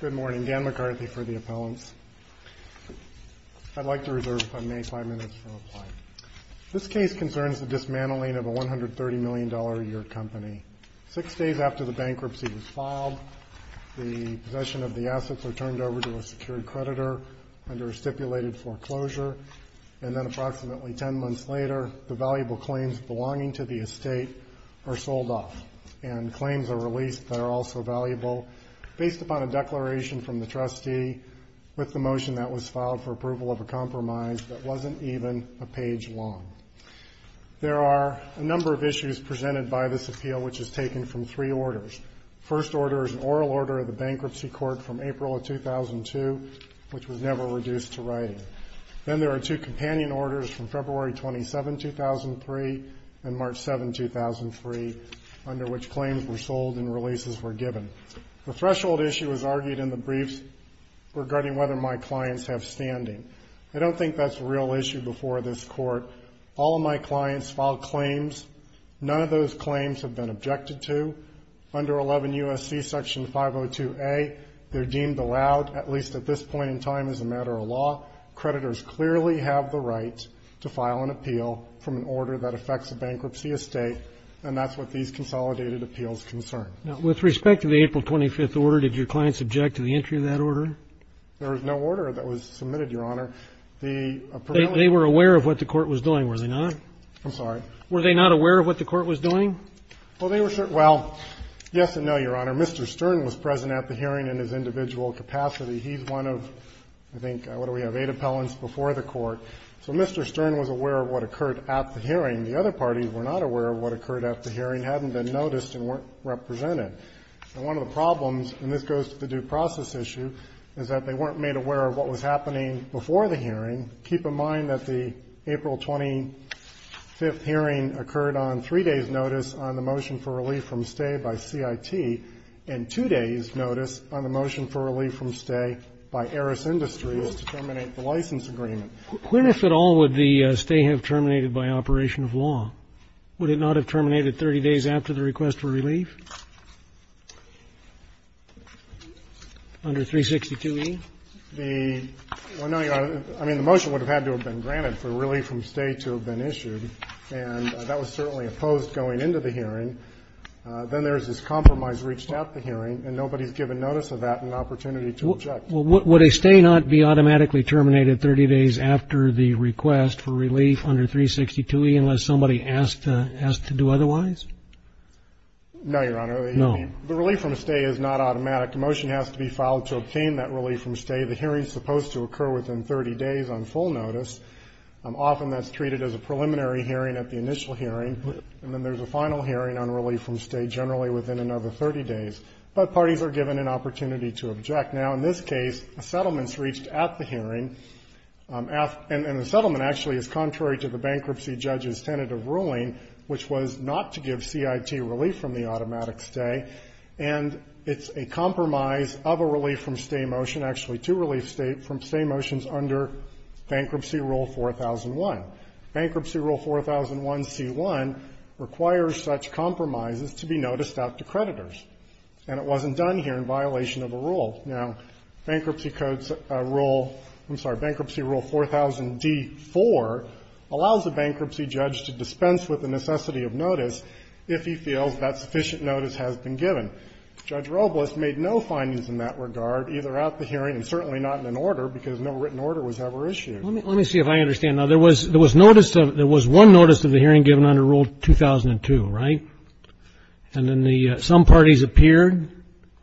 Good morning. Dan McCarthy for the appellants. I'd like to reserve if I may 5 minutes from applying. This case concerns the dismantling of a $130 million a year company. Six days after the bankruptcy was filed, the possession of the assets were turned over to a secured creditor under stipulated foreclosure. And then approximately 10 months later, the valuable claims belonging to the estate are sold off and claims are released that are also valuable based upon a declaration from the trustee with the motion that was filed for approval of a compromise that wasn't even a page long. There are a number of issues presented by this appeal which is taken from three orders. First order is an oral order of the bankruptcy court from April of 2002 which was never reduced to writing. Then there are two companion orders from February 27, 2003 and March 7, 2003 under which claims were sold and releases were given. The threshold issue was argued in the briefs regarding whether my clients have standing. I don't think that's a real issue before this court. All of my clients filed claims. None of those claims have been objected to. Under 11 U.S.C. Section 502A, they're deemed allowed, at least at this point in time, as a matter of law. Creditors clearly have the right to file an appeal from an order that affects a bankruptcy estate, and that's what these consolidated appeals concern. Now, with respect to the April 25th order, did your clients object to the entry of that order? There was no order that was submitted, Your Honor. The prevailing order was not. They were aware of what the court was doing, were they not? I'm sorry. Were they not aware of what the court was doing? Well, they were sure. Well, yes and no, Your Honor. Mr. Stern was present at the hearing in his individual capacity. He's one of, I think, what do we have, eight appellants before the court. So Mr. Stern was aware of what occurred at the hearing. The other parties were not aware of what occurred at the hearing, hadn't been noticed, and weren't represented. And one of the problems, and this goes to the due process issue, is that they weren't made aware of what was happening before the hearing. Keep in mind that the April 25th hearing occurred on three days' notice on the motion for relief from stay by CIT, and two days' notice on the motion for relief from stay by Eris Industries to terminate the license agreement. When, if at all, would the stay have terminated by operation of law? Would it not have terminated 30 days after the request for relief? Under 362e? Well, no, Your Honor. I mean, the motion would have had to have been granted for relief from stay to have been issued, and that was certainly opposed going into the hearing. Then there's this compromise reached at the hearing, and nobody's given notice of that and an opportunity to object. Well, would a stay not be automatically terminated 30 days after the request for relief under 362e unless somebody asked to do otherwise? No, Your Honor. No. The relief from stay is not automatic. The motion has to be filed to obtain that relief from stay. The hearing's supposed to occur within 30 days on full notice. Often that's treated as a preliminary hearing at the initial hearing, and then there's a final hearing on relief from stay generally within another 30 days. But parties are given an opportunity to object. Now, in this case, a settlement's reached at the hearing, and the settlement actually is contrary to the bankruptcy judge's tentative ruling, which was not to give CIT relief from the automatic stay, and it's a compromise of a relief from stay motion actually to relief from stay motions under Bankruptcy Rule 4001. Bankruptcy Rule 4001c1 requires such compromises to be noticed out to creditors, and it wasn't done here in violation of a rule. Now, Bankruptcy Code's rule – I'm sorry, Bankruptcy Rule 4000d4 allows a bankruptcy judge to dispense with the necessity of notice if he feels that sufficient notice has been given. Judge Robles made no findings in that regard, either at the hearing and certainly not in an order, because no written order was ever issued. Let me see if I understand. Now, there was notice of – there was one notice of the hearing given under Rule 2002, right? And then the – some parties appeared,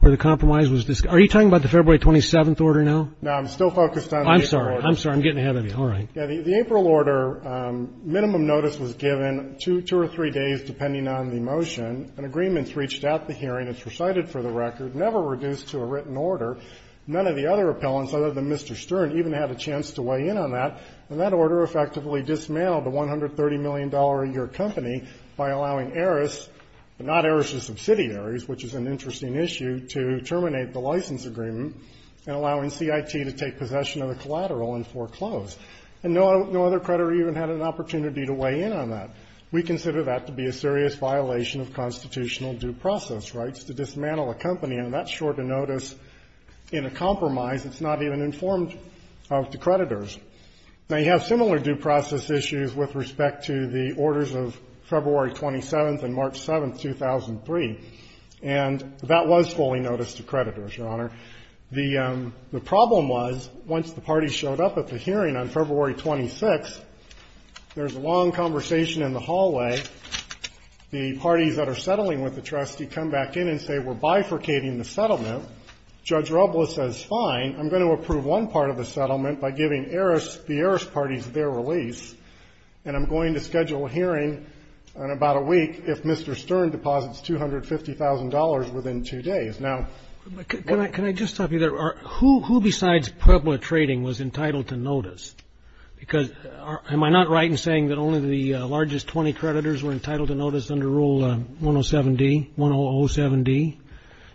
or the compromise was – are you talking about the February 27th order now? No, I'm still focused on the April order. I'm sorry. I'm sorry. I'm getting ahead of you. All right. Yeah. The April order, minimum notice was given two or three days, depending on the motion. An agreement's reached at the hearing, it's recited for the record, never reduced to a written order. None of the other appellants, other than Mr. Stern, even had a chance to weigh in on that, and that order effectively dismantled the $130 million-a-year company by allowing heiress, but not heiress to subsidiaries, which is an interesting issue, to terminate the license agreement and allowing CIT to take possession of the collateral and foreclose. And no other creditor even had an opportunity to weigh in on that. We consider that to be a serious violation of constitutional due process rights to dismantle a company, and that's short a notice in a compromise that's not even informed of the creditors. Now, you have similar due process issues with respect to the orders of February 27th and March 7th, 2003, and that was fully noticed to creditors, Your Honor. The problem was, once the parties showed up at the hearing on February 26th, there was a settlement in the hallway. The parties that are settling with the trustee come back in and say, we're bifurcating the settlement. Judge Robla says, fine, I'm going to approve one part of the settlement by giving heiress, the heiress parties, their release, and I'm going to schedule a hearing in about a week if Mr. Stern deposits $250,000 within two days. Now, what do you think of that? Can I just stop you there? Who besides Puebla Trading was entitled to notice? Because am I not right in saying that only the largest 20 creditors were entitled to notice under Rule 107D, 1007D,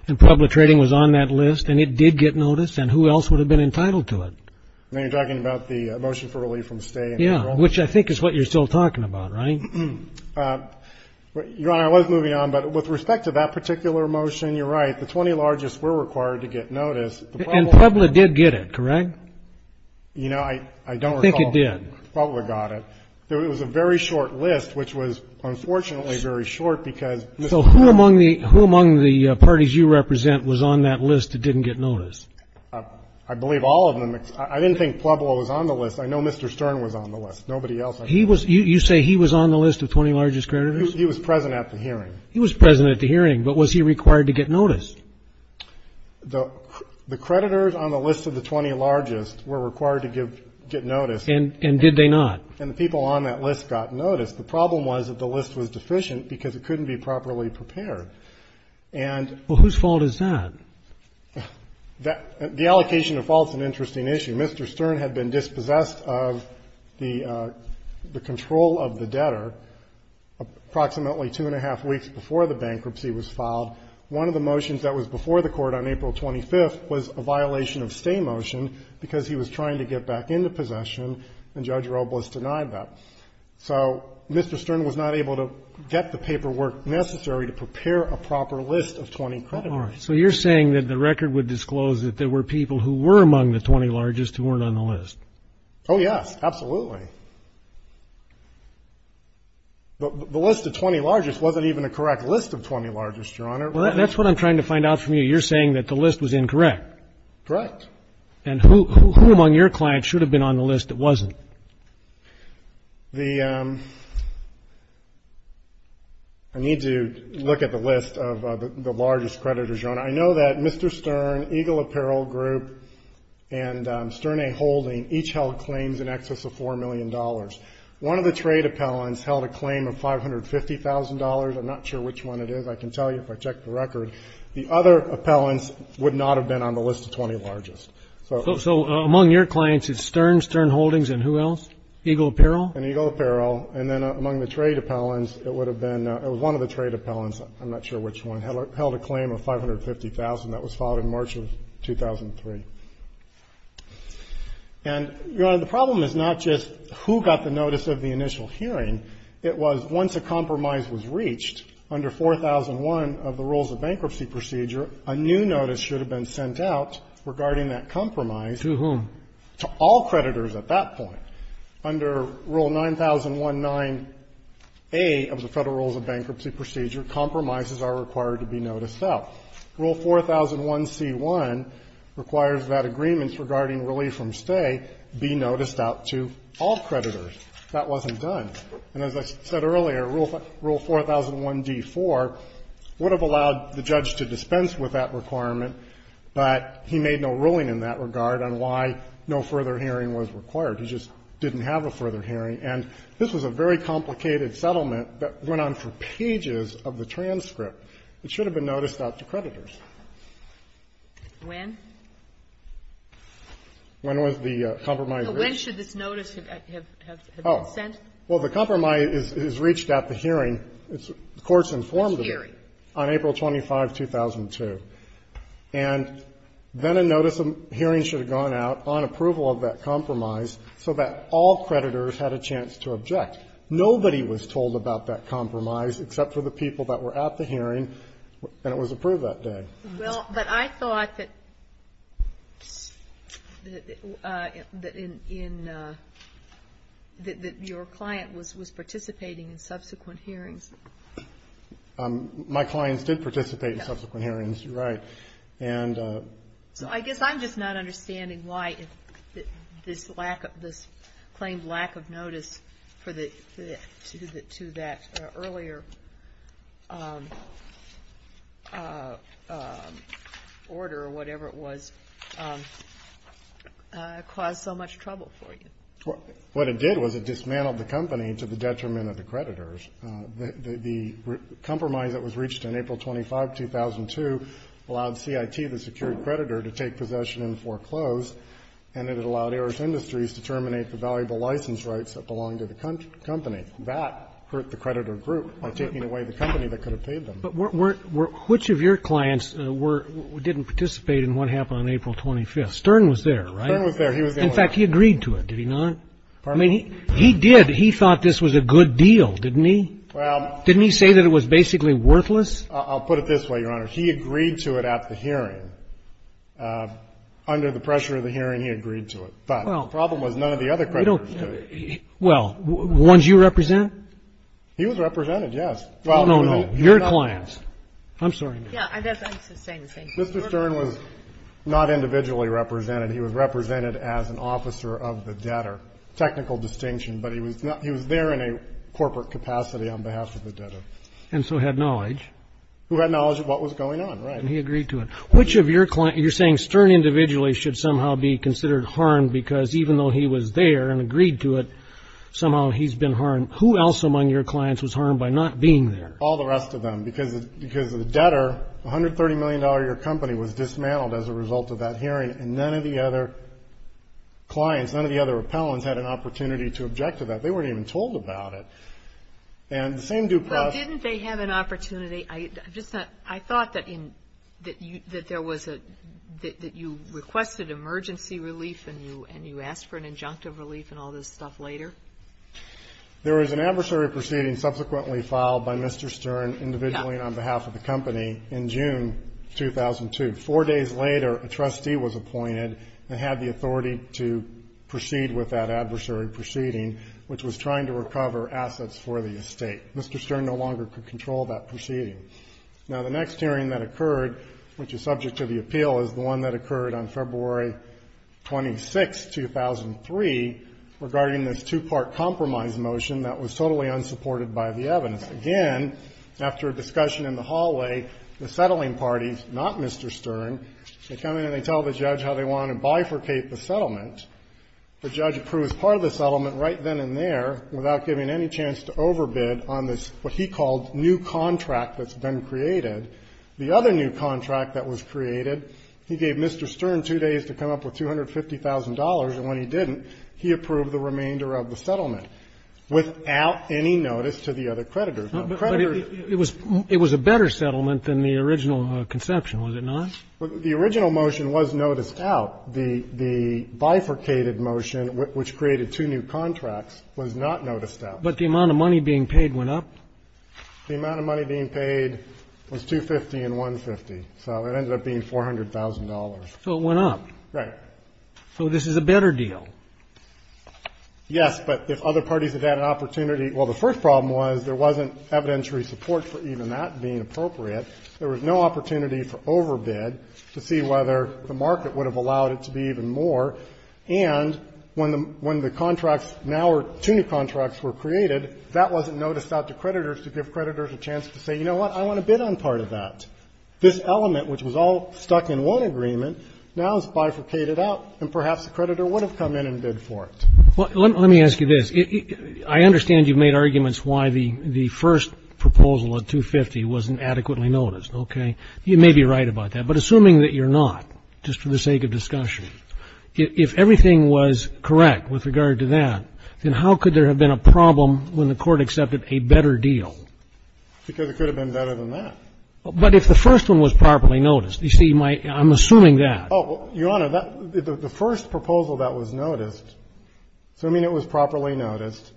and Puebla Trading was on that list, and it did get notice, and who else would have been entitled to it? Now, you're talking about the motion for relief from stay and enrollment. Yeah, which I think is what you're still talking about, right? Your Honor, I was moving on, but with respect to that particular motion, you're right, the 20 largest were required to get notice. And Puebla did get it, correct? You know, I don't recall. I think it did. Puebla got it. It was a very short list, which was unfortunately very short, because Mr. Stern. So who among the parties you represent was on that list that didn't get notice? I believe all of them. I didn't think Puebla was on the list. I know Mr. Stern was on the list. Nobody else. You say he was on the list of 20 largest creditors? He was present at the hearing. He was present at the hearing, but was he required to get notice? The creditors on the list of the 20 largest were required to get notice. And did they not? And the people on that list got notice. The problem was that the list was deficient because it couldn't be properly prepared. Well, whose fault is that? The allocation of faults is an interesting issue. Mr. Stern had been dispossessed of the control of the debtor approximately two and a half weeks before the bankruptcy was filed. One of the motions that was before the court on April 25th was a violation of stay motion because he was trying to get back into possession, and Judge Robles denied that. So Mr. Stern was not able to get the paperwork necessary to prepare a proper list of 20 creditors. So you're saying that the record would disclose that there were people who were among the 20 largest who weren't on the list? Oh, yes. Absolutely. But the list of 20 largest wasn't even a correct list of 20 largest, Your Honor. Well, that's what I'm trying to find out from you. You're saying that the list was incorrect? Correct. And who among your clients should have been on the list that wasn't? I need to look at the list of the largest creditors, Your Honor. I know that Mr. Stern, Eagle Apparel Group, and Sterne Holding each held claims in excess of $4 million. One of the trade appellants held a claim of $550,000. I'm not sure which one it is. I can tell you if I check the record. The other appellants would not have been on the list of 20 largest. So among your clients is Sterne, Sterne Holdings, and who else? Eagle Apparel? And Eagle Apparel. And then among the trade appellants, it would have been one of the trade appellants, I'm not sure which one, held a claim of $550,000. That was filed in March of 2003. And, Your Honor, the problem is not just who got the notice of the initial hearing. It was once a compromise was reached under 4001 of the Rules of Bankruptcy Procedure, a new notice should have been sent out regarding that compromise. To whom? To all creditors at that point. Under Rule 9019A of the Federal Rules of Bankruptcy Procedure, compromises are required to be noticed out. Rule 4001c1 requires that agreements regarding relief from stay be noticed out to all creditors. That wasn't done. And as I said earlier, Rule 4001d4 would have allowed the judge to dispense with that requirement, but he made no ruling in that regard on why no further hearing was required. He just didn't have a further hearing. And this was a very complicated settlement that went on for pages of the transcript. It should have been noticed out to creditors. When? When was the compromise reached? So when should this notice have been sent? Oh. Well, the compromise is reached at the hearing. The Court's informed of it. Which hearing? On April 25, 2002. And then a notice of hearing should have gone out on approval of that compromise so that all creditors had a chance to object. Nobody was told about that compromise except for the people that were at the hearing, and it was approved that day. Well, but I thought that your client was participating in subsequent hearings. My clients did participate in subsequent hearings. You're right. So I guess I'm just not understanding why this claimed lack of notice to that earlier order or whatever it was caused so much trouble for you. What it did was it dismantled the company to the detriment of the creditors. The compromise that was reached on April 25, 2002, allowed CIT, the secured creditor, to take possession and foreclose, and it allowed AERS Industries to terminate the valuable license rights that belonged to the company. That hurt the creditor group by taking away the company that could have paid them. But which of your clients didn't participate in what happened on April 25? Stern was there, right? Stern was there. In fact, he agreed to it. Did he not? I mean, he did. He thought this was a good deal. Didn't he? Didn't he say that it was basically worthless? I'll put it this way, Your Honor. He agreed to it at the hearing. Under the pressure of the hearing, he agreed to it. But the problem was none of the other creditors did. Well, ones you represent? He was represented, yes. No, no, no. Your clients. I'm sorry. Yeah, I guess I'm just saying the same thing. Mr. Stern was not individually represented. He was represented as an officer of the debtor. Technical distinction. But he was there in a corporate capacity on behalf of the debtor. And so had knowledge. Who had knowledge of what was going on, right. And he agreed to it. Which of your clients – you're saying Stern individually should somehow be considered harmed because even though he was there and agreed to it, somehow he's been harmed. Who else among your clients was harmed by not being there? All the rest of them. Because the debtor, $130 million-a-year company, was dismantled as a result of that hearing. And none of the other clients, none of the other appellants had an opportunity to object to that. They weren't even told about it. And the same due process – Well, didn't they have an opportunity – I thought that there was a – that you requested emergency relief and you asked for an injunctive relief and all this stuff later. There was an adversary proceeding subsequently filed by Mr. Stern individually on behalf of the company in June 2002. Four days later, a trustee was appointed and had the authority to proceed with that adversary proceeding, which was trying to recover assets for the estate. Mr. Stern no longer could control that proceeding. Now, the next hearing that occurred, which is subject to the appeal, is the one that occurred on February 26, 2003, regarding this two-part compromise motion that was totally unsupported by the evidence. Again, after a discussion in the hallway, the settling parties, not Mr. Stern, they come in and they tell the judge how they want to bifurcate the settlement. The judge approves part of the settlement right then and there without giving any chance to overbid on this, what he called, new contract that's been created. The other new contract that was created, he gave Mr. Stern two days to come up with $250,000, and when he didn't, he approved the remainder of the settlement without any notice to the other creditors. But it was a better settlement than the original conception, was it not? The original motion was noticed out. The bifurcated motion, which created two new contracts, was not noticed out. But the amount of money being paid went up? The amount of money being paid was $250,000 and $150,000. So it ended up being $400,000. So it went up? Right. So this is a better deal? Yes, but if other parties had had an opportunity. Well, the first problem was there wasn't evidentiary support for even that being appropriate. There was no opportunity for overbid to see whether the market would have allowed it to be even more. And when the contracts now were two new contracts were created, that wasn't noticed out to creditors to give creditors a chance to say, you know what? I want to bid on part of that. This element, which was all stuck in one agreement, now is bifurcated out. And perhaps a creditor would have come in and bid for it. Well, let me ask you this. I understand you made arguments why the first proposal of $250,000 wasn't adequately noticed, okay? You may be right about that. But assuming that you're not, just for the sake of discussion, if everything was correct with regard to that, then how could there have been a problem when the court accepted a better deal? Because it could have been better than that. But if the first one was properly noticed, you see, I'm assuming that. Oh, Your Honor, the first proposal that was noticed, assuming it was properly noticed,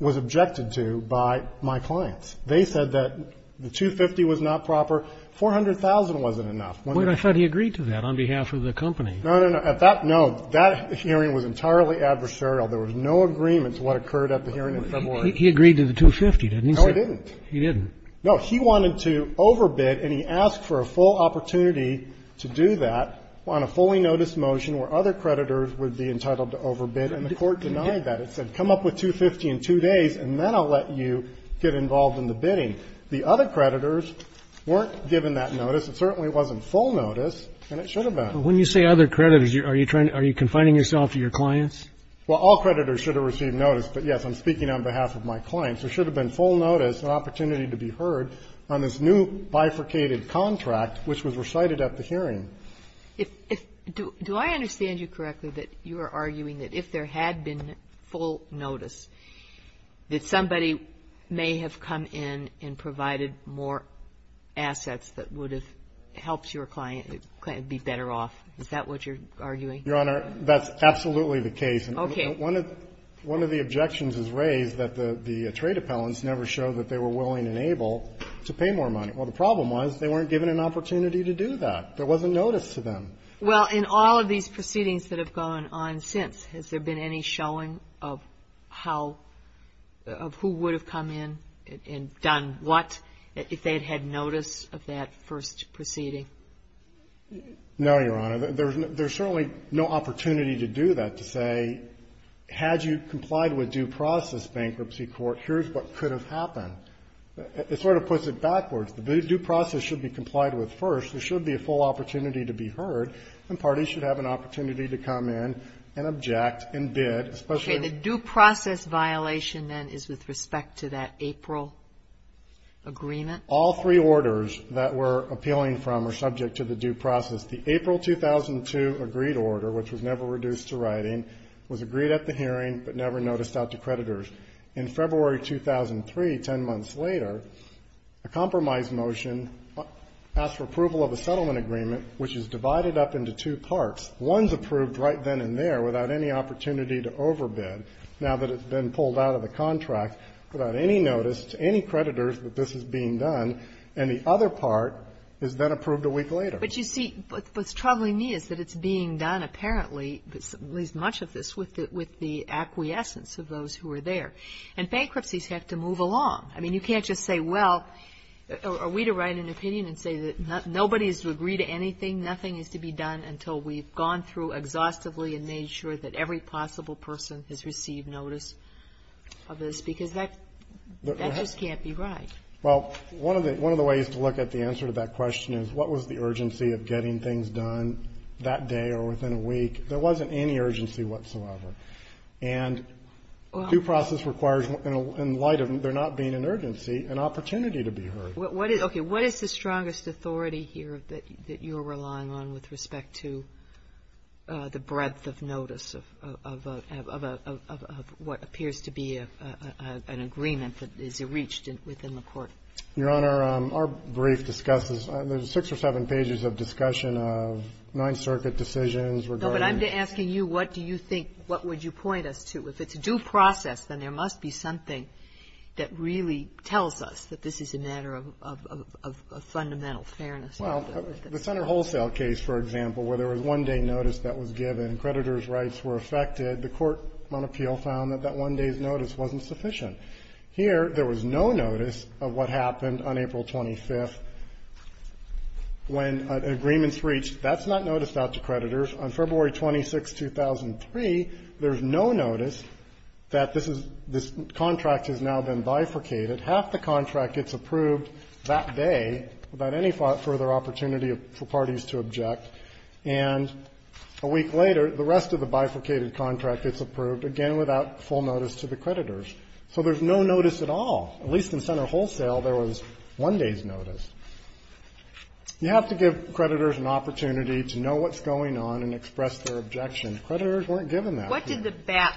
was objected to by my clients. They said that the $250,000 was not proper. $400,000 wasn't enough. But I thought he agreed to that on behalf of the company. No, no, no. At that note, that hearing was entirely adversarial. There was no agreement to what occurred at the hearing in February. He agreed to the $250,000, didn't he, sir? No, he didn't. He didn't. No, he wanted to overbid, and he asked for a full opportunity to do that on a fully noticed motion where other creditors would be entitled to overbid. And the court denied that. It said, come up with $250,000 in two days, and then I'll let you get involved in the bidding. The other creditors weren't given that notice. It certainly wasn't full notice, and it should have been. But when you say other creditors, are you trying to – are you confining yourself to your clients? Well, all creditors should have received notice. But, yes, I'm speaking on behalf of my clients. There should have been full notice, an opportunity to be heard on this new bifurcated contract which was recited at the hearing. Do I understand you correctly that you are arguing that if there had been full notice that somebody may have come in and provided more assets that would have helped your client be better off? Is that what you're arguing? Your Honor, that's absolutely the case. Okay. One of the objections is raised that the trade appellants never showed that they were willing and able to pay more money. Well, the problem was they weren't given an opportunity to do that. There wasn't notice to them. Well, in all of these proceedings that have gone on since, has there been any showing of how – of who would have come in and done what if they had had notice of that first proceeding? No, Your Honor. There's certainly no opportunity to do that, to say, had you complied with due process bankruptcy court, here's what could have happened. It sort of puts it backwards. The due process should be complied with first. There should be a full opportunity to be heard, and parties should have an opportunity to come in and object and bid. Okay. The due process violation, then, is with respect to that April agreement? All three orders that we're appealing from are subject to the due process. The April 2002 agreed order, which was never reduced to writing, was agreed at the hearing, but never noticed out to creditors. In February 2003, 10 months later, a compromise motion asked for approval of a settlement agreement, which is divided up into two parts. One's approved right then and there without any opportunity to overbid, now that it's been pulled out of the contract, without any notice to any creditors that this is being done, and the other part is then approved a week later. But you see, what's troubling me is that it's being done, apparently, at least much of this, with the acquiescence of those who are there. And bankruptcies have to move along. I mean, you can't just say, well, are we to write an opinion and say that nobody is to agree to anything, nothing is to be done until we've gone through exhaustively and made sure that every possible person has received notice of this, because that just can't be right. Well, one of the ways to look at the answer to that question is what was the urgency of getting things done that day or within a week? There wasn't any urgency whatsoever. And due process requires, in light of there not being an urgency, an opportunity to be heard. Okay. What is the strongest authority here that you're relying on with respect to the breadth of notice of what appears to be an agreement that is reached within the Court? Your Honor, our brief discusses the six or seven pages of discussion of Ninth Circuit decisions regarding the City of New York. No, but I'm asking you, what do you think, what would you point us to? If it's due process, then there must be something that really tells us that this is a matter of fundamental fairness. Well, the Center Wholesale case, for example, where there was one-day notice that was given, creditor's rights were affected. The Court on Appeal found that that one-day's notice wasn't sufficient. Here, there was no notice of what happened on April 25th when an agreement's reached. That's not noticed out to creditors. On February 26, 2003, there's no notice that this is, this contract has now been bifurcated. Half the contract gets approved that day without any further opportunity for parties to object, and a week later, the rest of the bifurcated contract gets approved, again, without full notice to the creditors. So there's no notice at all. At least in Center Wholesale, there was one-day's notice. You have to give creditors an opportunity to know what's going on and express their objection. Creditors weren't given that. What did the BAP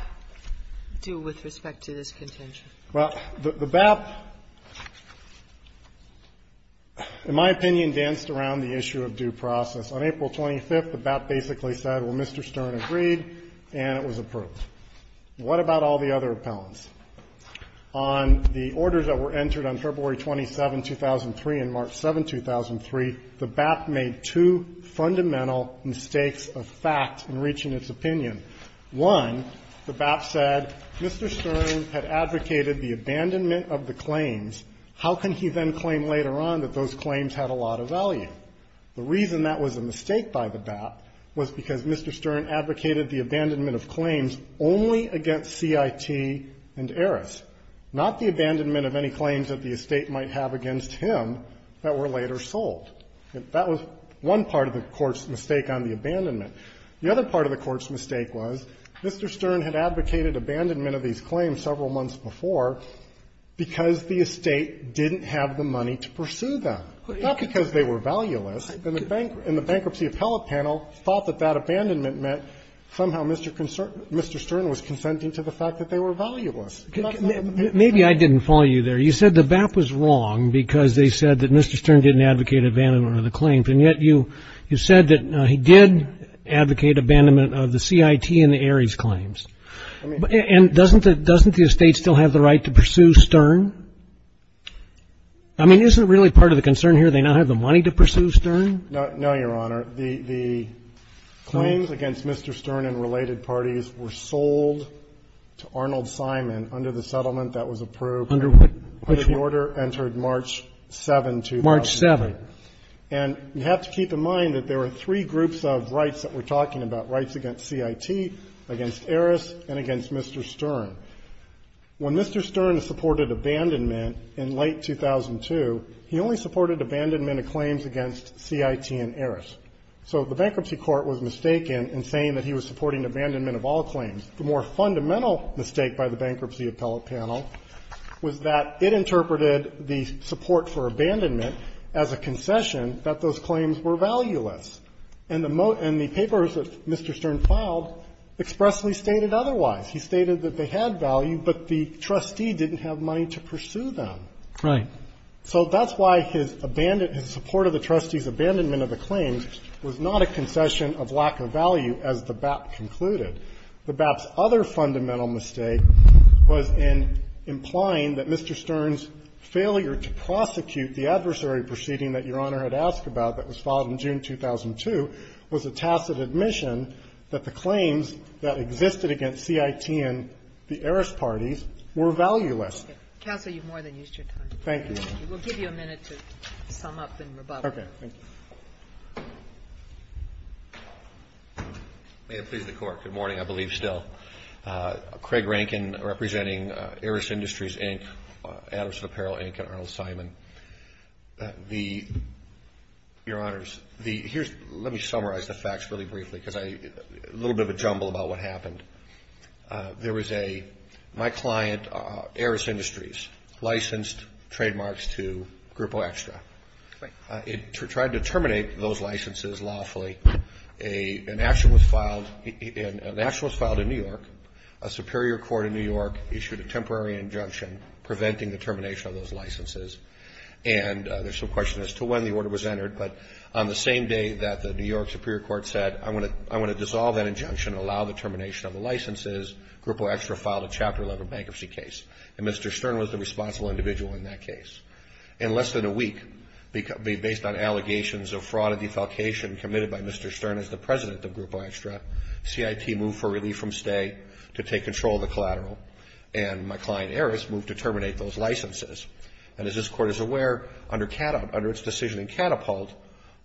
do with respect to this contention? Well, the BAP, in my opinion, danced around the issue of due process. On April 25th, the BAP basically said, well, Mr. Stern agreed, and it was approved. What about all the other appellants? On the orders that were entered on February 27, 2003, and March 7, 2003, the BAP made two fundamental mistakes of fact in reaching its opinion. One, the BAP said, Mr. Stern had advocated the abandonment of the claims. How can he then claim later on that those claims had a lot of value? The reason that was a mistake by the BAP was because Mr. Stern advocated the abandonment of claims only against CIT and Eris, not the abandonment of any claims that the estate might have against him that were later sold. That was one part of the Court's mistake on the abandonment. The other part of the Court's mistake was Mr. Stern had advocated abandonment of these claims several months before because the estate didn't have the money to pursue them, not because they were valueless. And the bankruptcy appellate panel thought that that abandonment meant somehow Mr. Stern was consenting to the fact that they were valueless. Maybe I didn't follow you there. You said the BAP was wrong because they said that Mr. Stern didn't advocate abandonment of the claims. And yet you said that he did advocate abandonment of the CIT and the Eris claims. And doesn't the estate still have the right to pursue Stern? I mean, isn't it really part of the concern here they now have the money to pursue Stern? No, Your Honor. The claims against Mr. Stern and related parties were sold to Arnold Simon under the settlement that was approved. Under what? Under the order entered March 7, 2007. March 7. And you have to keep in mind that there were three groups of rights that we're talking about, rights against CIT, against Eris, and against Mr. Stern. When Mr. Stern supported abandonment in late 2002, he only supported abandonment of claims against CIT and Eris. So the bankruptcy court was mistaken in saying that he was supporting abandonment of all claims. The more fundamental mistake by the bankruptcy appellate panel was that it interpreted the support for abandonment as a concession that those claims were valueless. And the papers that Mr. Stern filed expressly stated otherwise. He stated that they had value, but the trustee didn't have money to pursue them. Right. So that's why his support of the trustee's abandonment of the claims was not a concession of lack of value, as the BAP concluded. The BAP's other fundamental mistake was in implying that Mr. Stern's failure to prosecute the adversary proceeding that Your Honor had asked about that was filed in June 2002 was a tacit admission that the claims that existed against CIT and the Eris parties were valueless. Counsel, you've more than used your time. Thank you. We'll give you a minute to sum up and rebuttal. Okay. Thank you. May it please the Court. Good morning, I believe, still. Craig Rankin, representing Eris Industries, Inc., Adamson Apparel, Inc., and Arnold Simon. The, Your Honors, the, here's, let me summarize the facts really briefly, because I, a little bit of a jumble about what happened. There was a, my client, Eris Industries, licensed trademarks to Grupo Extra. It tried to terminate those licenses lawfully. An action was filed, an action was filed in New York. A superior court in New York issued a temporary injunction preventing the termination of those licenses. And there's some question as to when the order was entered, but on the same day that the New York superior court said, I want to, I want to dissolve that injunction and allow the termination of the licenses, Grupo Extra filed a Chapter 11 bankruptcy And Mr. Stern was the responsible individual in that case. In less than a week, based on allegations of fraud and defalcation committed by Mr. Stern as the president of Grupo Extra, CIT moved for relief from stay to take control of the collateral. And my client, Eris, moved to terminate those licenses. And as this Court is aware, under its decision in Catapult,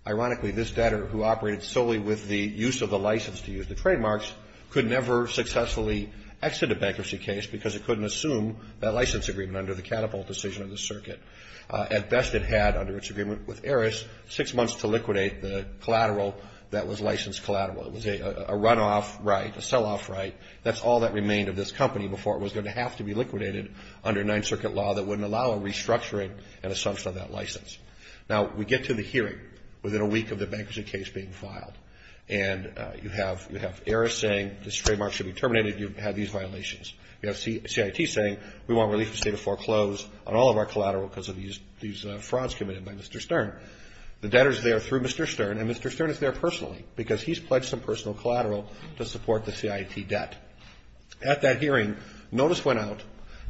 ironically, this debtor who operated solely with the use of the license to use the trademarks could never successfully exit a bankruptcy case because it couldn't assume that license agreement under the Catapult decision of the circuit. At best, it had, under its agreement with Eris, six months to liquidate the collateral that was licensed collateral. It was a runoff right, a sell-off right. That's all that remained of this company before it was going to have to be liquidated under Ninth Circuit law that wouldn't allow a restructuring and assumption of that license. Now, we get to the hearing within a week of the bankruptcy case being filed. And you have Eris saying this trademark should be terminated. You have these violations. You have CIT saying we want relief to stay to foreclose on all of our collateral because of these frauds committed by Mr. Stern. The debtor's there through Mr. Stern, and Mr. Stern is there personally because he's pledged some personal collateral to support the CIT debt. At that hearing, notice went out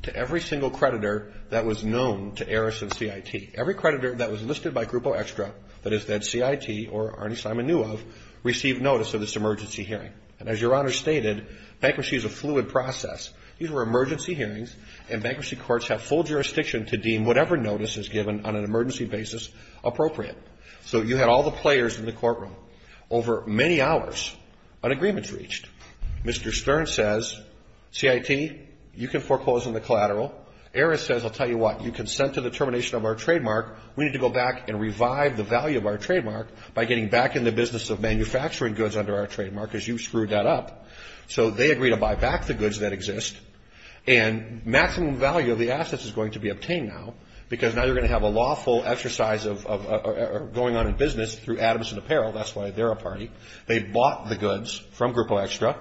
to every single creditor that was known to Eris and CIT. Every creditor that was listed by Grupo Extra, that is, that CIT or Arnie Simon knew of, received notice of this emergency hearing. And as Your Honor stated, bankruptcy is a fluid process. These were emergency hearings, and bankruptcy courts have full jurisdiction to deem whatever notice is given on an emergency basis appropriate. So you had all the players in the courtroom. Over many hours, an agreement is reached. Mr. Stern says, CIT, you can foreclose on the collateral. Eris says, I'll tell you what, you consent to the termination of our trademark. We need to go back and revive the value of our trademark by getting back in the business of manufacturing goods under our trademark because you screwed that up. So they agree to buy back the goods that exist, and maximum value of the assets is going to be obtained now because now you're going to have a lawful exercise going on in business through Adams & Apparel. That's why they're a party. They bought the goods from Grupo Extra,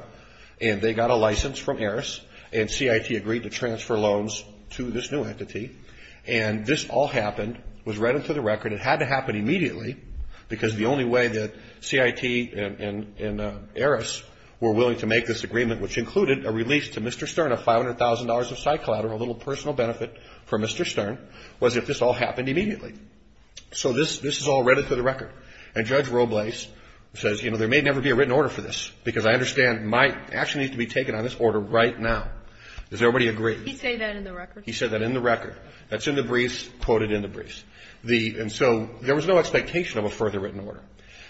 and they got a license from Eris, and CIT agreed to transfer loans to this new entity. And this all happened, was read into the record. It had to happen immediately because the only way that CIT and Eris were willing to make this agreement, which included a release to Mr. Stern of $500,000 of side collateral, a little personal benefit for Mr. Stern, was if this all happened immediately. So this is all read into the record. And Judge Robles says, you know, there may never be a written order for this because I understand my action needs to be taken on this order right now. Does everybody agree? He said that in the record. He said that in the record. That's in the briefs, quoted in the briefs. And so there was no expectation of a further written order.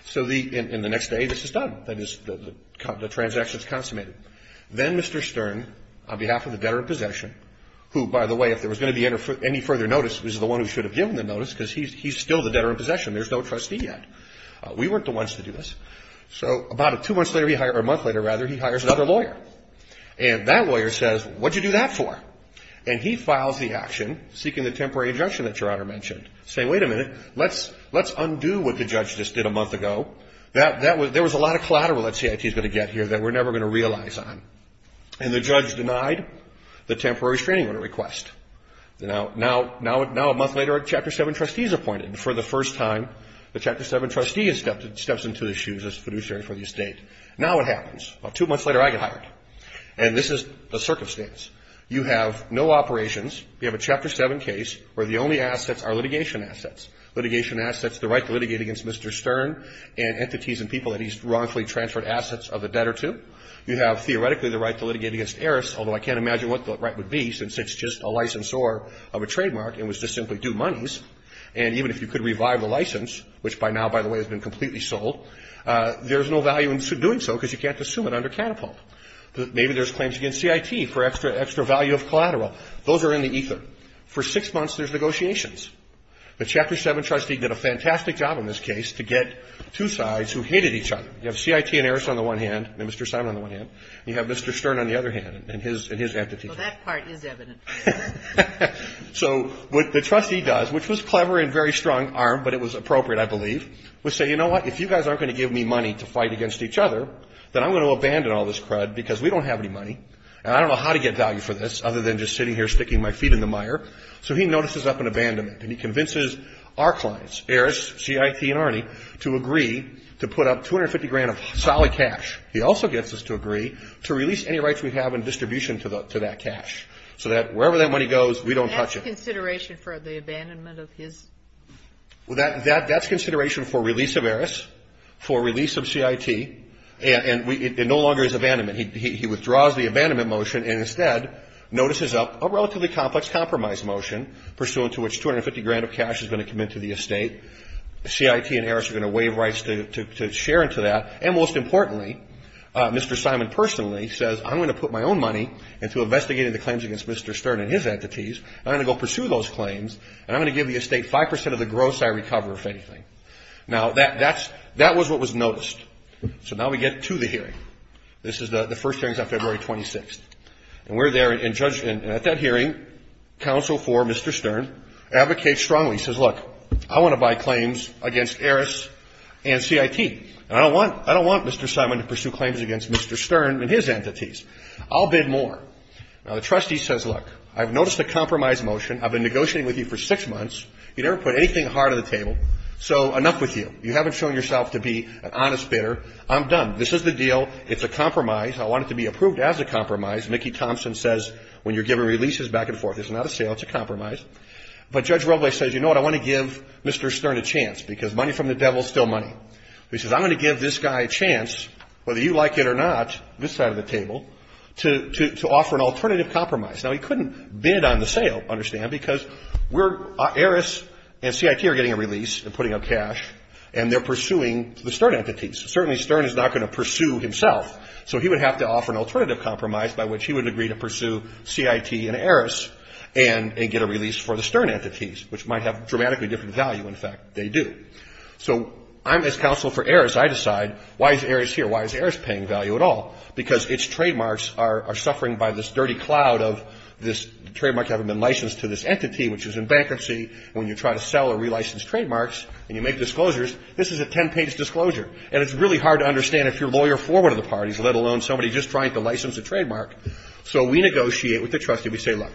So in the next day, this is done. That is, the transaction is consummated. Then Mr. Stern, on behalf of the debtor in possession, who, by the way, if there was going to be any further notice, was the one who should have given the notice because he's still the debtor in possession. There's no trustee yet. We weren't the ones to do this. So about two months later, or a month later, rather, he hires another lawyer. And that lawyer says, what did you do that for? And he files the action, seeking the temporary injunction that Your Honor mentioned, saying, wait a minute, let's undo what the judge just did a month ago. There was a lot of collateral that CIT is going to get here that we're never going to realize on. And the judge denied the temporary restraining order request. Now a month later, a Chapter 7 trustee is appointed. For the first time, the Chapter 7 trustee steps into the shoes as fiduciary for the estate. Now what happens? About two months later, I get hired. And this is the circumstance. You have no operations. You have a Chapter 7 case where the only assets are litigation assets. Litigation assets, the right to litigate against Mr. Stern and entities and people that he's wrongfully transferred assets of the debtor to. You have theoretically the right to litigate against heiress, although I can't imagine what the right would be, since it's just a licensor of a trademark and was just simply due monies. And even if you could revive the license, which by now, by the way, has been completely sold, there's no value in doing so because you can't assume it under catapult. Maybe there's claims against CIT for extra value of collateral. Those are in the ether. For six months, there's negotiations. The Chapter 7 trustee did a fantastic job in this case to get two sides who hated each other. You have CIT and heiress on the one hand and Mr. Simon on the one hand. You have Mr. Stern on the other hand and his entity. Well, that part is evident. So what the trustee does, which was clever and very strong arm, but it was appropriate, I believe, was say, you know what? If you guys aren't going to give me money to fight against each other, then I'm going to abandon all this crud because we don't have any money. And I don't know how to get value for this other than just sitting here sticking my feet in the mire. So he notices up an abandonment and he convinces our clients, heiress, CIT and Arnie, to agree to put up 250 grand of solid cash. He also gets us to agree to release any rights we have in distribution to that cash so that wherever that money goes, we don't touch it. That's consideration for the abandonment of his? That's consideration for release of heiress, for release of CIT. And it no longer is abandonment. He withdraws the abandonment motion and instead notices up a relatively complex compromise motion pursuant to which 250 grand of cash is going to come into the estate. CIT and heiress are going to waive rights to share into that. And most importantly, Mr. Simon personally says, I'm going to put my own money into investigating the claims against Mr. Stern and his entities. I'm going to go pursue those claims. And I'm going to give the estate 5% of the gross I recover, if anything. Now, that was what was noticed. So now we get to the hearing. This is the first hearing is on February 26th. And we're there. And at that hearing, counsel for Mr. Stern advocates strongly. He says, look, I want to buy claims against heiress and CIT. And I don't want Mr. Simon to pursue claims against Mr. Stern and his entities. I'll bid more. Now, the trustee says, look, I've noticed a compromise motion. I've been negotiating with you for six months. You never put anything hard on the table, so enough with you. You haven't shown yourself to be an honest bidder. I'm done. This is the deal. It's a compromise. I want it to be approved as a compromise. Mickey Thompson says, when you're giving releases back and forth, it's not a sale, it's a compromise. But Judge Roble says, you know what, I want to give Mr. Stern a chance, because money from the devil is still money. He says, I'm going to give this guy a chance, whether you like it or not, this side of the table, to offer an alternative compromise. Now, he couldn't bid on the sale, understand, because we're, heiress and CIT are getting a release and putting up cash, and they're pursuing the Stern entities. Certainly Stern is not going to pursue himself, so he would have to offer an alternative compromise by which he would agree to pursue CIT and heiress and get a release for the Stern entities, which might have dramatically different value. In fact, they do. So I'm his counsel for heiress. I decide, why is heiress here? Why is heiress paying value at all? Because its trademarks are suffering by this dirty cloud of this trademark having been And you make disclosures. This is a ten-page disclosure. And it's really hard to understand if you're lawyer for one of the parties, let alone somebody just trying to license a trademark. So we negotiate with the trustee. We say, look,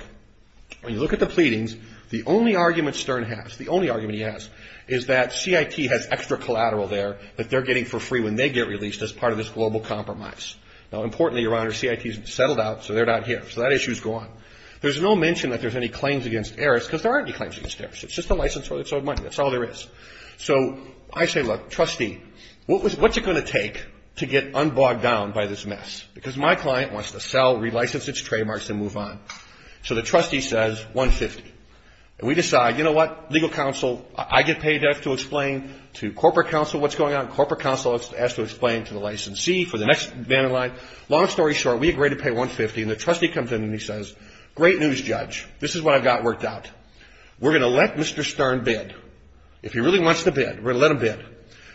when you look at the pleadings, the only argument Stern has, the only argument he has, is that CIT has extra collateral there that they're getting for free when they get released as part of this global compromise. Now, importantly, Your Honor, CIT has settled out, so they're not here. So that issue is gone. There's no mention that there's any claims against heiress, because there aren't any claims against heiress. It's just a licensor that sold money. That's all there is. So I say, look, trustee, what's it going to take to get unbogged down by this mess? Because my client wants to sell, relicense its trademarks, and move on. So the trustee says, 150. And we decide, you know what, legal counsel, I get paid to explain to corporate counsel what's going on. Corporate counsel has to explain to the licensee for the next vandal line. Long story short, we agree to pay 150. And the trustee comes in and he says, great news, judge. This is what I've got worked out. We're going to let Mr. Stern bid. If he really wants to bid, we're going to let him bid.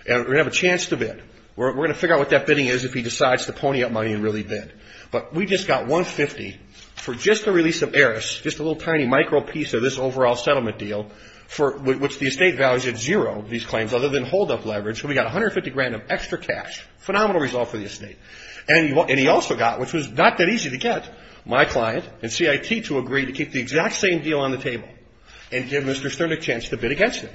And we're going to have a chance to bid. We're going to figure out what that bidding is if he decides to pony up money and really bid. But we just got 150 for just the release of heiress, just a little tiny micro piece of this overall settlement deal, which the estate values at zero, these claims, other than holdup leverage. So we got 150 grand of extra cash, phenomenal result for the estate. And he also got, which was not that easy to get, my client and CIT to agree to pay and give Mr. Stern a chance to bid against it.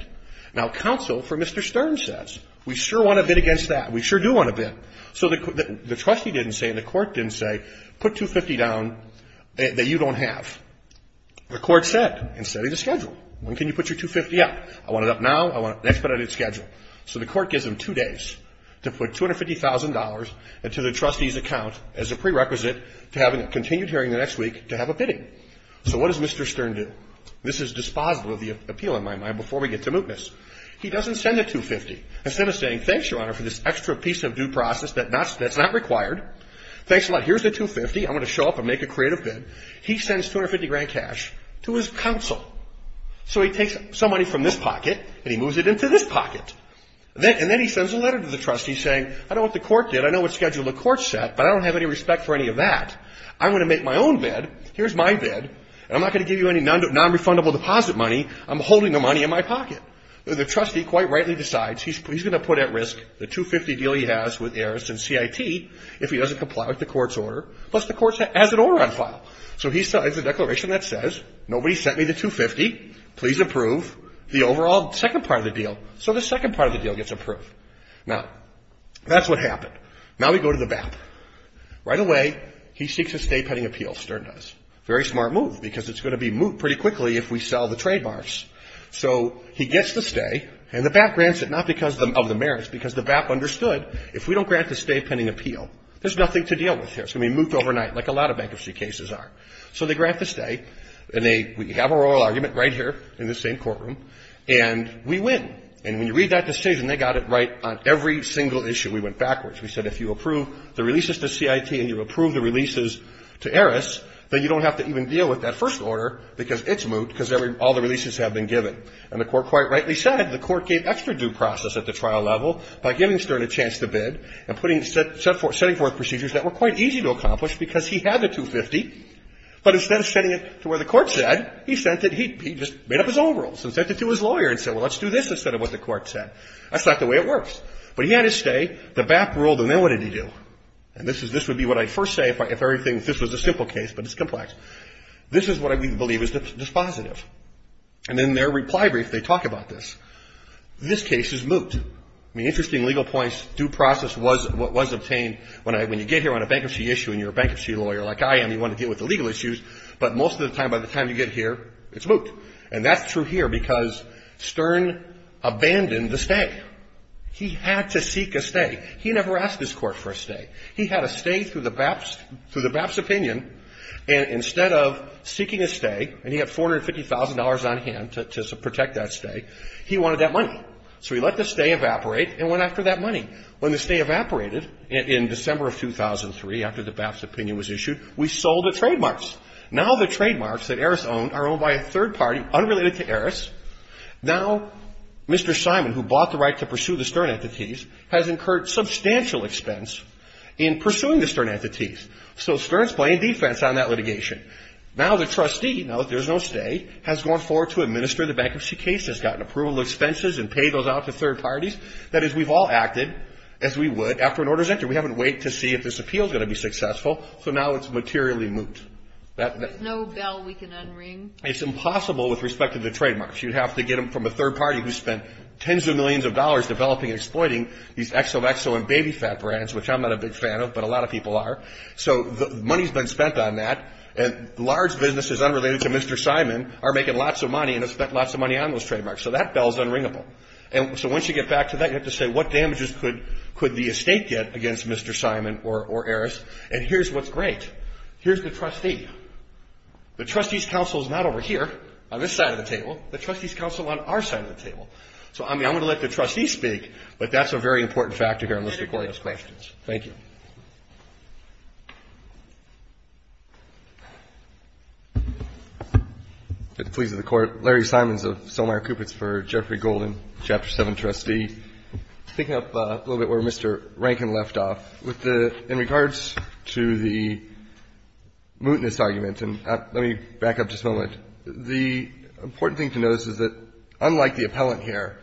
Now, counsel for Mr. Stern says, we sure want to bid against that. We sure do want to bid. So the trustee didn't say and the court didn't say, put 250 down that you don't have. The court said, instead of the schedule, when can you put your 250 up? I want it up now, I want it next, but I didn't schedule. So the court gives him two days to put $250,000 into the trustee's account as a prerequisite to having a continued hearing the next week to have a bidding. So what does Mr. Stern do? This is dispositive of the appeal, in my mind, before we get to mootness. He doesn't send the 250. Instead of saying, thanks, Your Honor, for this extra piece of due process that's not required. Thanks a lot. Here's the 250. I'm going to show up and make a creative bid. He sends 250 grand cash to his counsel. So he takes some money from this pocket and he moves it into this pocket. And then he sends a letter to the trustee saying, I don't know what the court did, I know what schedule the court set, but I don't have any respect for any of that. I'm going to make my own bid. Here's my bid. I'm not going to give you any non-refundable deposit money. I'm holding the money in my pocket. The trustee quite rightly decides he's going to put at risk the 250 deal he has with Aris and CIT if he doesn't comply with the court's order, plus the court has an order on file. So he has a declaration that says, nobody sent me the 250. Please approve the overall second part of the deal. So the second part of the deal gets approved. Now, that's what happened. Now we go to the BAP. Right away, he seeks a staypending appeal, Stern does. Very smart move, because it's going to be moved pretty quickly if we sell the trademarks. So he gets the stay, and the BAP grants it, not because of the merits, because the BAP understood, if we don't grant the staypending appeal, there's nothing to deal with here. It's going to be moved overnight, like a lot of bankruptcy cases are. So they grant the stay, and we have our oral argument right here in this same courtroom, and we win. And when you read that decision, they got it right on every single issue. We went backwards. We said, if you approve the releases to CIT and you approve the releases to CIT, you have to even deal with that first order, because it's moot, because all the releases have been given. And the Court quite rightly said, the Court gave extra due process at the trial level by giving Stern a chance to bid and putting, setting forth procedures that were quite easy to accomplish because he had the 250, but instead of setting it to where the Court said, he sent it, he just made up his own rules and sent it to his lawyer and said, well, let's do this instead of what the Court said. That's not the way it works. But he had his stay. The BAP ruled, and then what did he do? And this would be what I'd first say if everything, if this was a simple case, but it's complex. This is what I believe is dispositive. And in their reply brief, they talk about this. This case is moot. I mean, interesting legal points. Due process was obtained. When you get here on a bankruptcy issue and you're a bankruptcy lawyer like I am, you want to deal with the legal issues, but most of the time, by the time you get here, it's moot. And that's true here because Stern abandoned the stay. He had to seek a stay. He never asked his Court for a stay. He had a stay through the BAP's opinion, and instead of seeking a stay, and he had $450,000 on hand to protect that stay, he wanted that money. So he let the stay evaporate and went after that money. When the stay evaporated in December of 2003, after the BAP's opinion was issued, we sold the trademarks. Now the trademarks that Eris owned are owned by a third party unrelated to Eris. Now Mr. Simon, who bought the right to pursue the Stern entities, has incurred substantial expense in pursuing the Stern entities. So Stern's playing defense on that litigation. Now the trustee, now that there's no stay, has gone forward to administer the bankruptcy case, has gotten approval of expenses and paid those out to third parties. That is, we've all acted as we would after an order's entered. We haven't waited to see if this appeal's going to be successful, so now it's materially moot. There's no bell we can unring. It's impossible with respect to the trademarks. You'd have to get them from a third party who spent tens of millions of dollars developing and exploiting these XOXO and BabyFat brands, which I'm not a big fan of, but a lot of people are. So money's been spent on that, and large businesses unrelated to Mr. Simon are making lots of money and have spent lots of money on those trademarks. So that bell's unringable. So once you get back to that, you have to say what damages could the estate get against Mr. Simon or Eris, and here's what's great. Here's the trustee. The trustee's counsel is not over here on this side of the table. The trustee's counsel on our side of the table. So, I mean, I'm going to let the trustee speak, but that's a very important factor here. And let's take one of those questions. Thank you. Larry Simons of Solmeyer Cupitz for Jeffrey Golden, Chapter 7, Trustee. Picking up a little bit where Mr. Rankin left off, with the — in regards to the mootness argument, and let me back up just a moment. The important thing to notice is that, unlike the appellant here,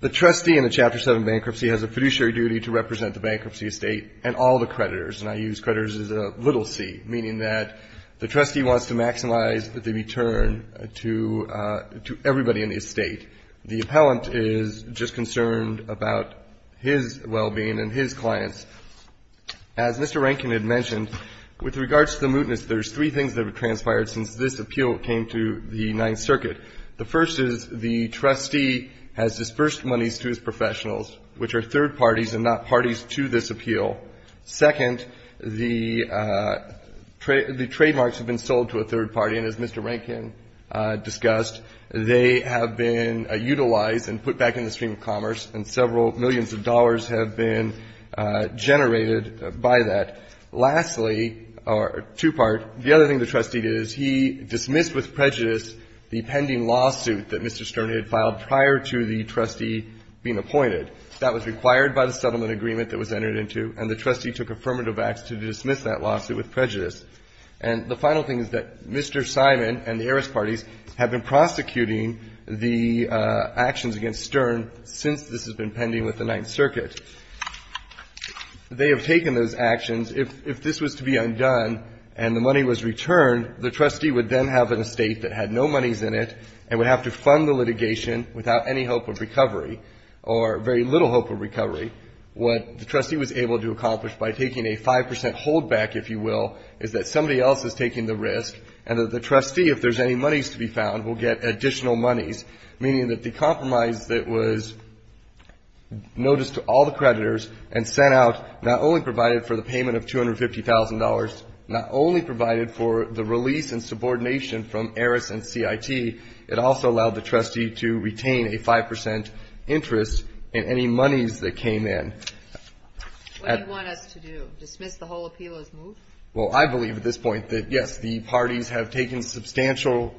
the trustee in the Chapter 7 bankruptcy has a fiduciary duty to represent the bankruptcy estate and all the creditors. And I use creditors as a little c, meaning that the trustee wants to maximize the return to everybody in the estate. The appellant is just concerned about his well-being and his clients. As Mr. Rankin had mentioned, with regards to the mootness, there's three things that have transpired since this appeal came to the Ninth Circuit. The first is the trustee has disbursed monies to his professionals, which are third parties and not parties to this appeal. Second, the trademarks have been sold to a third party, and as Mr. Rankin discussed, they have been utilized and put back in the stream of commerce, and several millions of dollars have been generated by that. Lastly, or two-part, the other thing the trustee did is he dismissed with prejudice the pending lawsuit that Mr. Stern had filed prior to the trustee being appointed. That was required by the settlement agreement that was entered into, and the trustee took affirmative acts to dismiss that lawsuit with prejudice. And the final thing is that Mr. Simon and the heiress parties have been prosecuting the actions against Stern since this has been pending with the Ninth Circuit. They have taken those actions. If this was to be undone and the money was returned, the trustee would then have an estate that had no monies in it and would have to fund the litigation without any hope of recovery or very little hope of recovery. What the trustee was able to accomplish by taking a 5 percent holdback, if you will, is that somebody else is taking the risk, and that the trustee, if there's any monies to be found, will get additional monies, meaning that the compromise that was noticed to all the creditors and sent out not only provided for the payment of $250,000, not only provided for the release and subordination from Eris and CIT, it also allowed the trustee to retain a 5 percent interest in any monies that came in. What do you want us to do? Dismiss the whole appeal as moved? Well, I believe at this point that, yes, the parties have taken substantial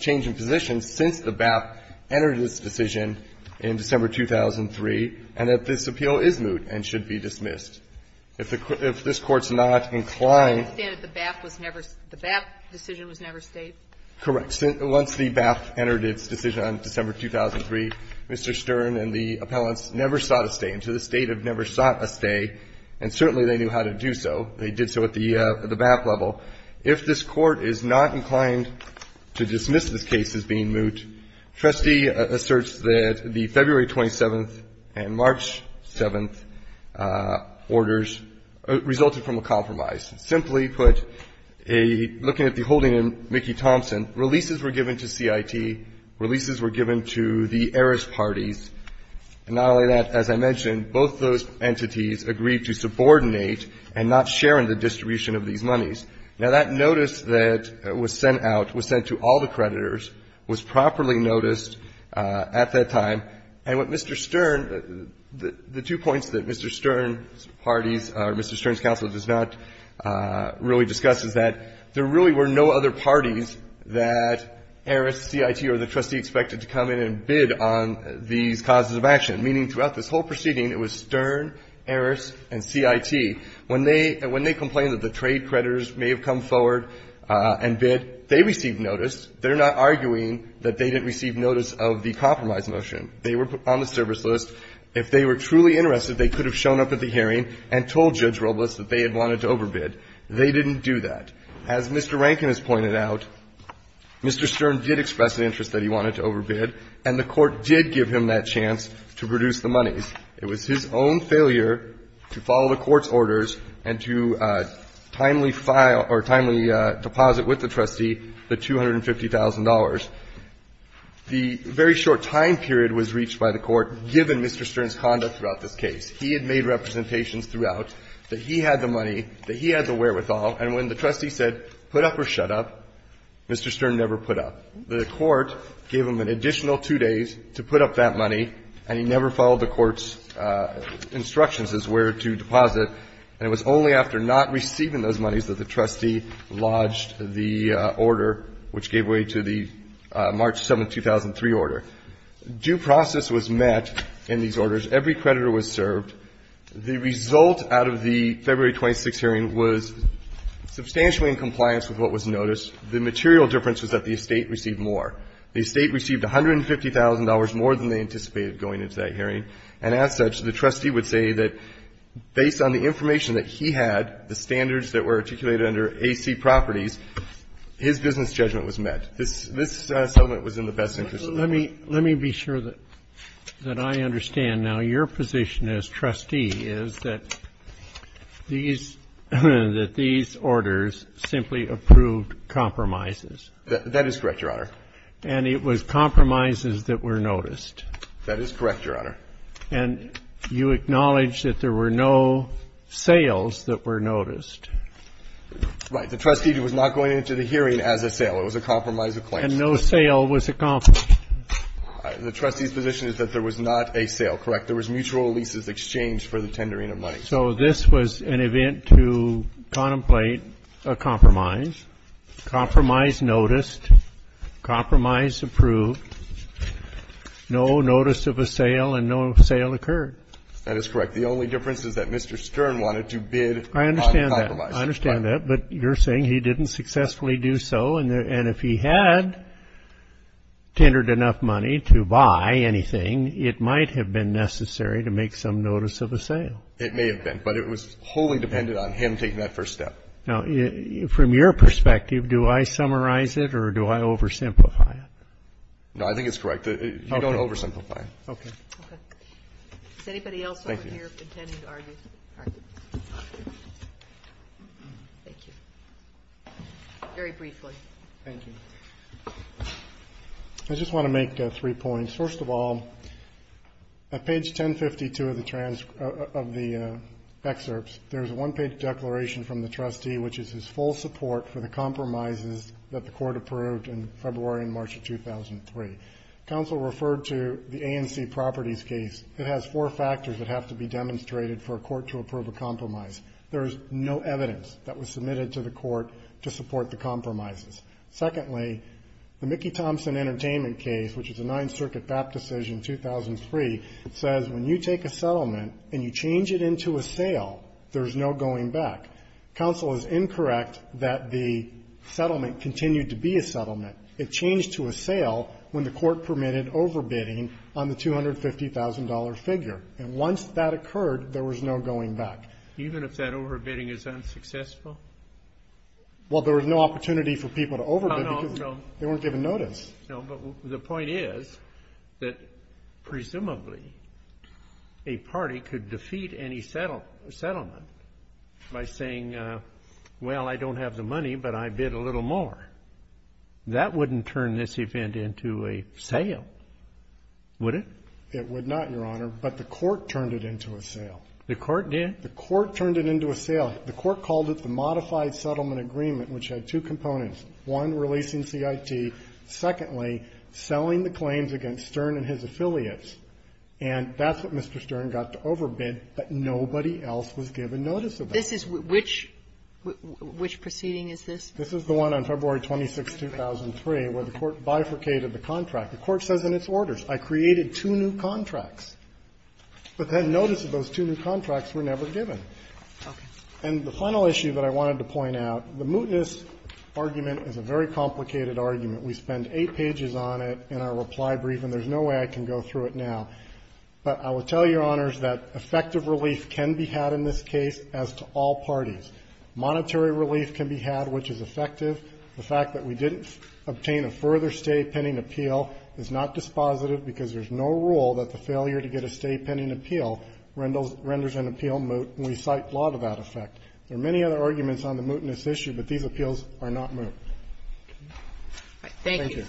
change in positions since the BAP entered its decision in December 2003, and that this appeal is moved and should be dismissed. If this Court's not inclined to do that. The BAP decision was never stayed? Correct. Once the BAP entered its decision on December 2003, Mr. Stern and the appellants never sought a stay. And so the State had never sought a stay, and certainly they knew how to do so. They did so at the BAP level. If this Court is not inclined to dismiss this case as being moot, Trustee asserts that the February 27th and March 7th orders resulted from a compromise. Simply put, looking at the holding in Mickey Thompson, releases were given to CIT, releases were given to the Eris parties. And not only that, as I mentioned, both those entities agreed to subordinate and not share in the distribution of these monies. Now, that notice that was sent out, was sent to all the creditors, was properly noticed at that time. And what Mr. Stern, the two points that Mr. Stern's parties or Mr. Stern's counsel does not really discuss is that there really were no other parties that Eris, CIT, or the trustee expected to come in and bid on these causes of action. Meaning throughout this whole proceeding, it was Stern, Eris, and CIT. When they complained that the trade creditors may have come forward and bid, they received notice. They're not arguing that they didn't receive notice of the compromise motion. They were on the service list. If they were truly interested, they could have shown up at the hearing and told Judge Robles that they had wanted to overbid. They didn't do that. As Mr. Rankin has pointed out, Mr. Stern did express an interest that he wanted to overbid, and the Court did give him that chance to produce the monies. It was his own failure to follow the Court's orders and to timely file or timely deposit with the trustee the $250,000. The very short time period was reached by the Court, given Mr. Stern's conduct throughout this case. He had made representations throughout that he had the money, that he had the wherewithal, and when the trustee said put up or shut up, Mr. Stern never put up. The Court gave him an additional two days to put up that money, and he never followed the Court's instructions as where to deposit. And it was only after not receiving those monies that the trustee lodged the order, which gave way to the March 7, 2003, order. Due process was met in these orders. Every creditor was served. The result out of the February 26 hearing was substantially in compliance with what was noticed. The material difference was that the estate received more. The estate received $150,000 more than they anticipated going into that hearing. And as such, the trustee would say that based on the information that he had, the standards that were articulated under AC Properties, his business judgment was met. This settlement was in the best interest of the Court. Let me be sure that I understand. Now, your position as trustee is that these orders simply approved compromises. That is correct, Your Honor. And it was compromises that were noticed. That is correct, Your Honor. And you acknowledge that there were no sales that were noticed. Right. The trustee was not going into the hearing as a sale. It was a compromise of claims. And no sale was a compromise. The trustee's position is that there was not a sale, correct? There was mutual leases exchanged for the tendering of money. So this was an event to contemplate a compromise. Compromise noticed. Compromise approved. No notice of a sale and no sale occurred. That is correct. The only difference is that Mr. Stern wanted to bid on compromise. I understand that. I understand that. But you're saying he didn't successfully do so. And if he had tendered enough money to buy anything, it might have been necessary to make some notice of a sale. It may have been. But it was wholly dependent on him taking that first step. Now, from your perspective, do I summarize it or do I oversimplify it? No, I think it's correct. You don't oversimplify it. Okay. Okay. Does anybody else over here intend to argue? Thank you. All right. Thank you. Very briefly. Thank you. I just want to make three points. First of all, at page 1052 of the transcript of the excerpts, there is a one-page declaration from the trustee, which is his full support for the compromises that the court approved in February and March of 2003. Counsel referred to the ANC properties case. It has four factors that have to be demonstrated for a court to approve a compromise. There is no evidence that was submitted to the court to support the compromises. Secondly, the Mickey Thompson Entertainment case, which is a Ninth Circuit BAP decision, 2003, says when you take a settlement and you change it into a sale, there is no going back. Counsel is incorrect that the settlement continued to be a settlement. It changed to a sale when the court permitted overbidding on the $250,000 figure. And once that occurred, there was no going back. Even if that overbidding is unsuccessful? Well, there was no opportunity for people to overbid because they weren't given notice. No, but the point is that presumably a party could defeat any settlement by saying, well, I don't have the money, but I bid a little more. That wouldn't turn this event into a sale, would it? It would not, Your Honor, but the court turned it into a sale. The court did? The court turned it into a sale. The court called it the modified settlement agreement, which had two components, one, releasing CIT, secondly, selling the claims against Stern and his affiliates. And that's what Mr. Stern got to overbid, but nobody else was given notice of it. This is which – which proceeding is this? This is the one on February 26th, 2003, where the court bifurcated the contract. The court says in its orders, I created two new contracts, but then notice of those two new contracts were never given. Okay. And the final issue that I wanted to point out, the mootness argument is a very complicated argument. We spend eight pages on it in our reply brief, and there's no way I can go through it now. But I will tell Your Honors that effective relief can be had in this case as to all parties. Monetary relief can be had, which is effective. The fact that we didn't obtain a further stay pending appeal is not dispositive, because there's no rule that the failure to get a stay pending appeal renders an appeal moot, and we cite law to that effect. There are many other arguments on the mootness issue, but these appeals are not moot. Thank you.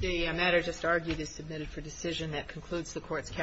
The matter just argued is submitted for decision. That concludes the Court's counsel.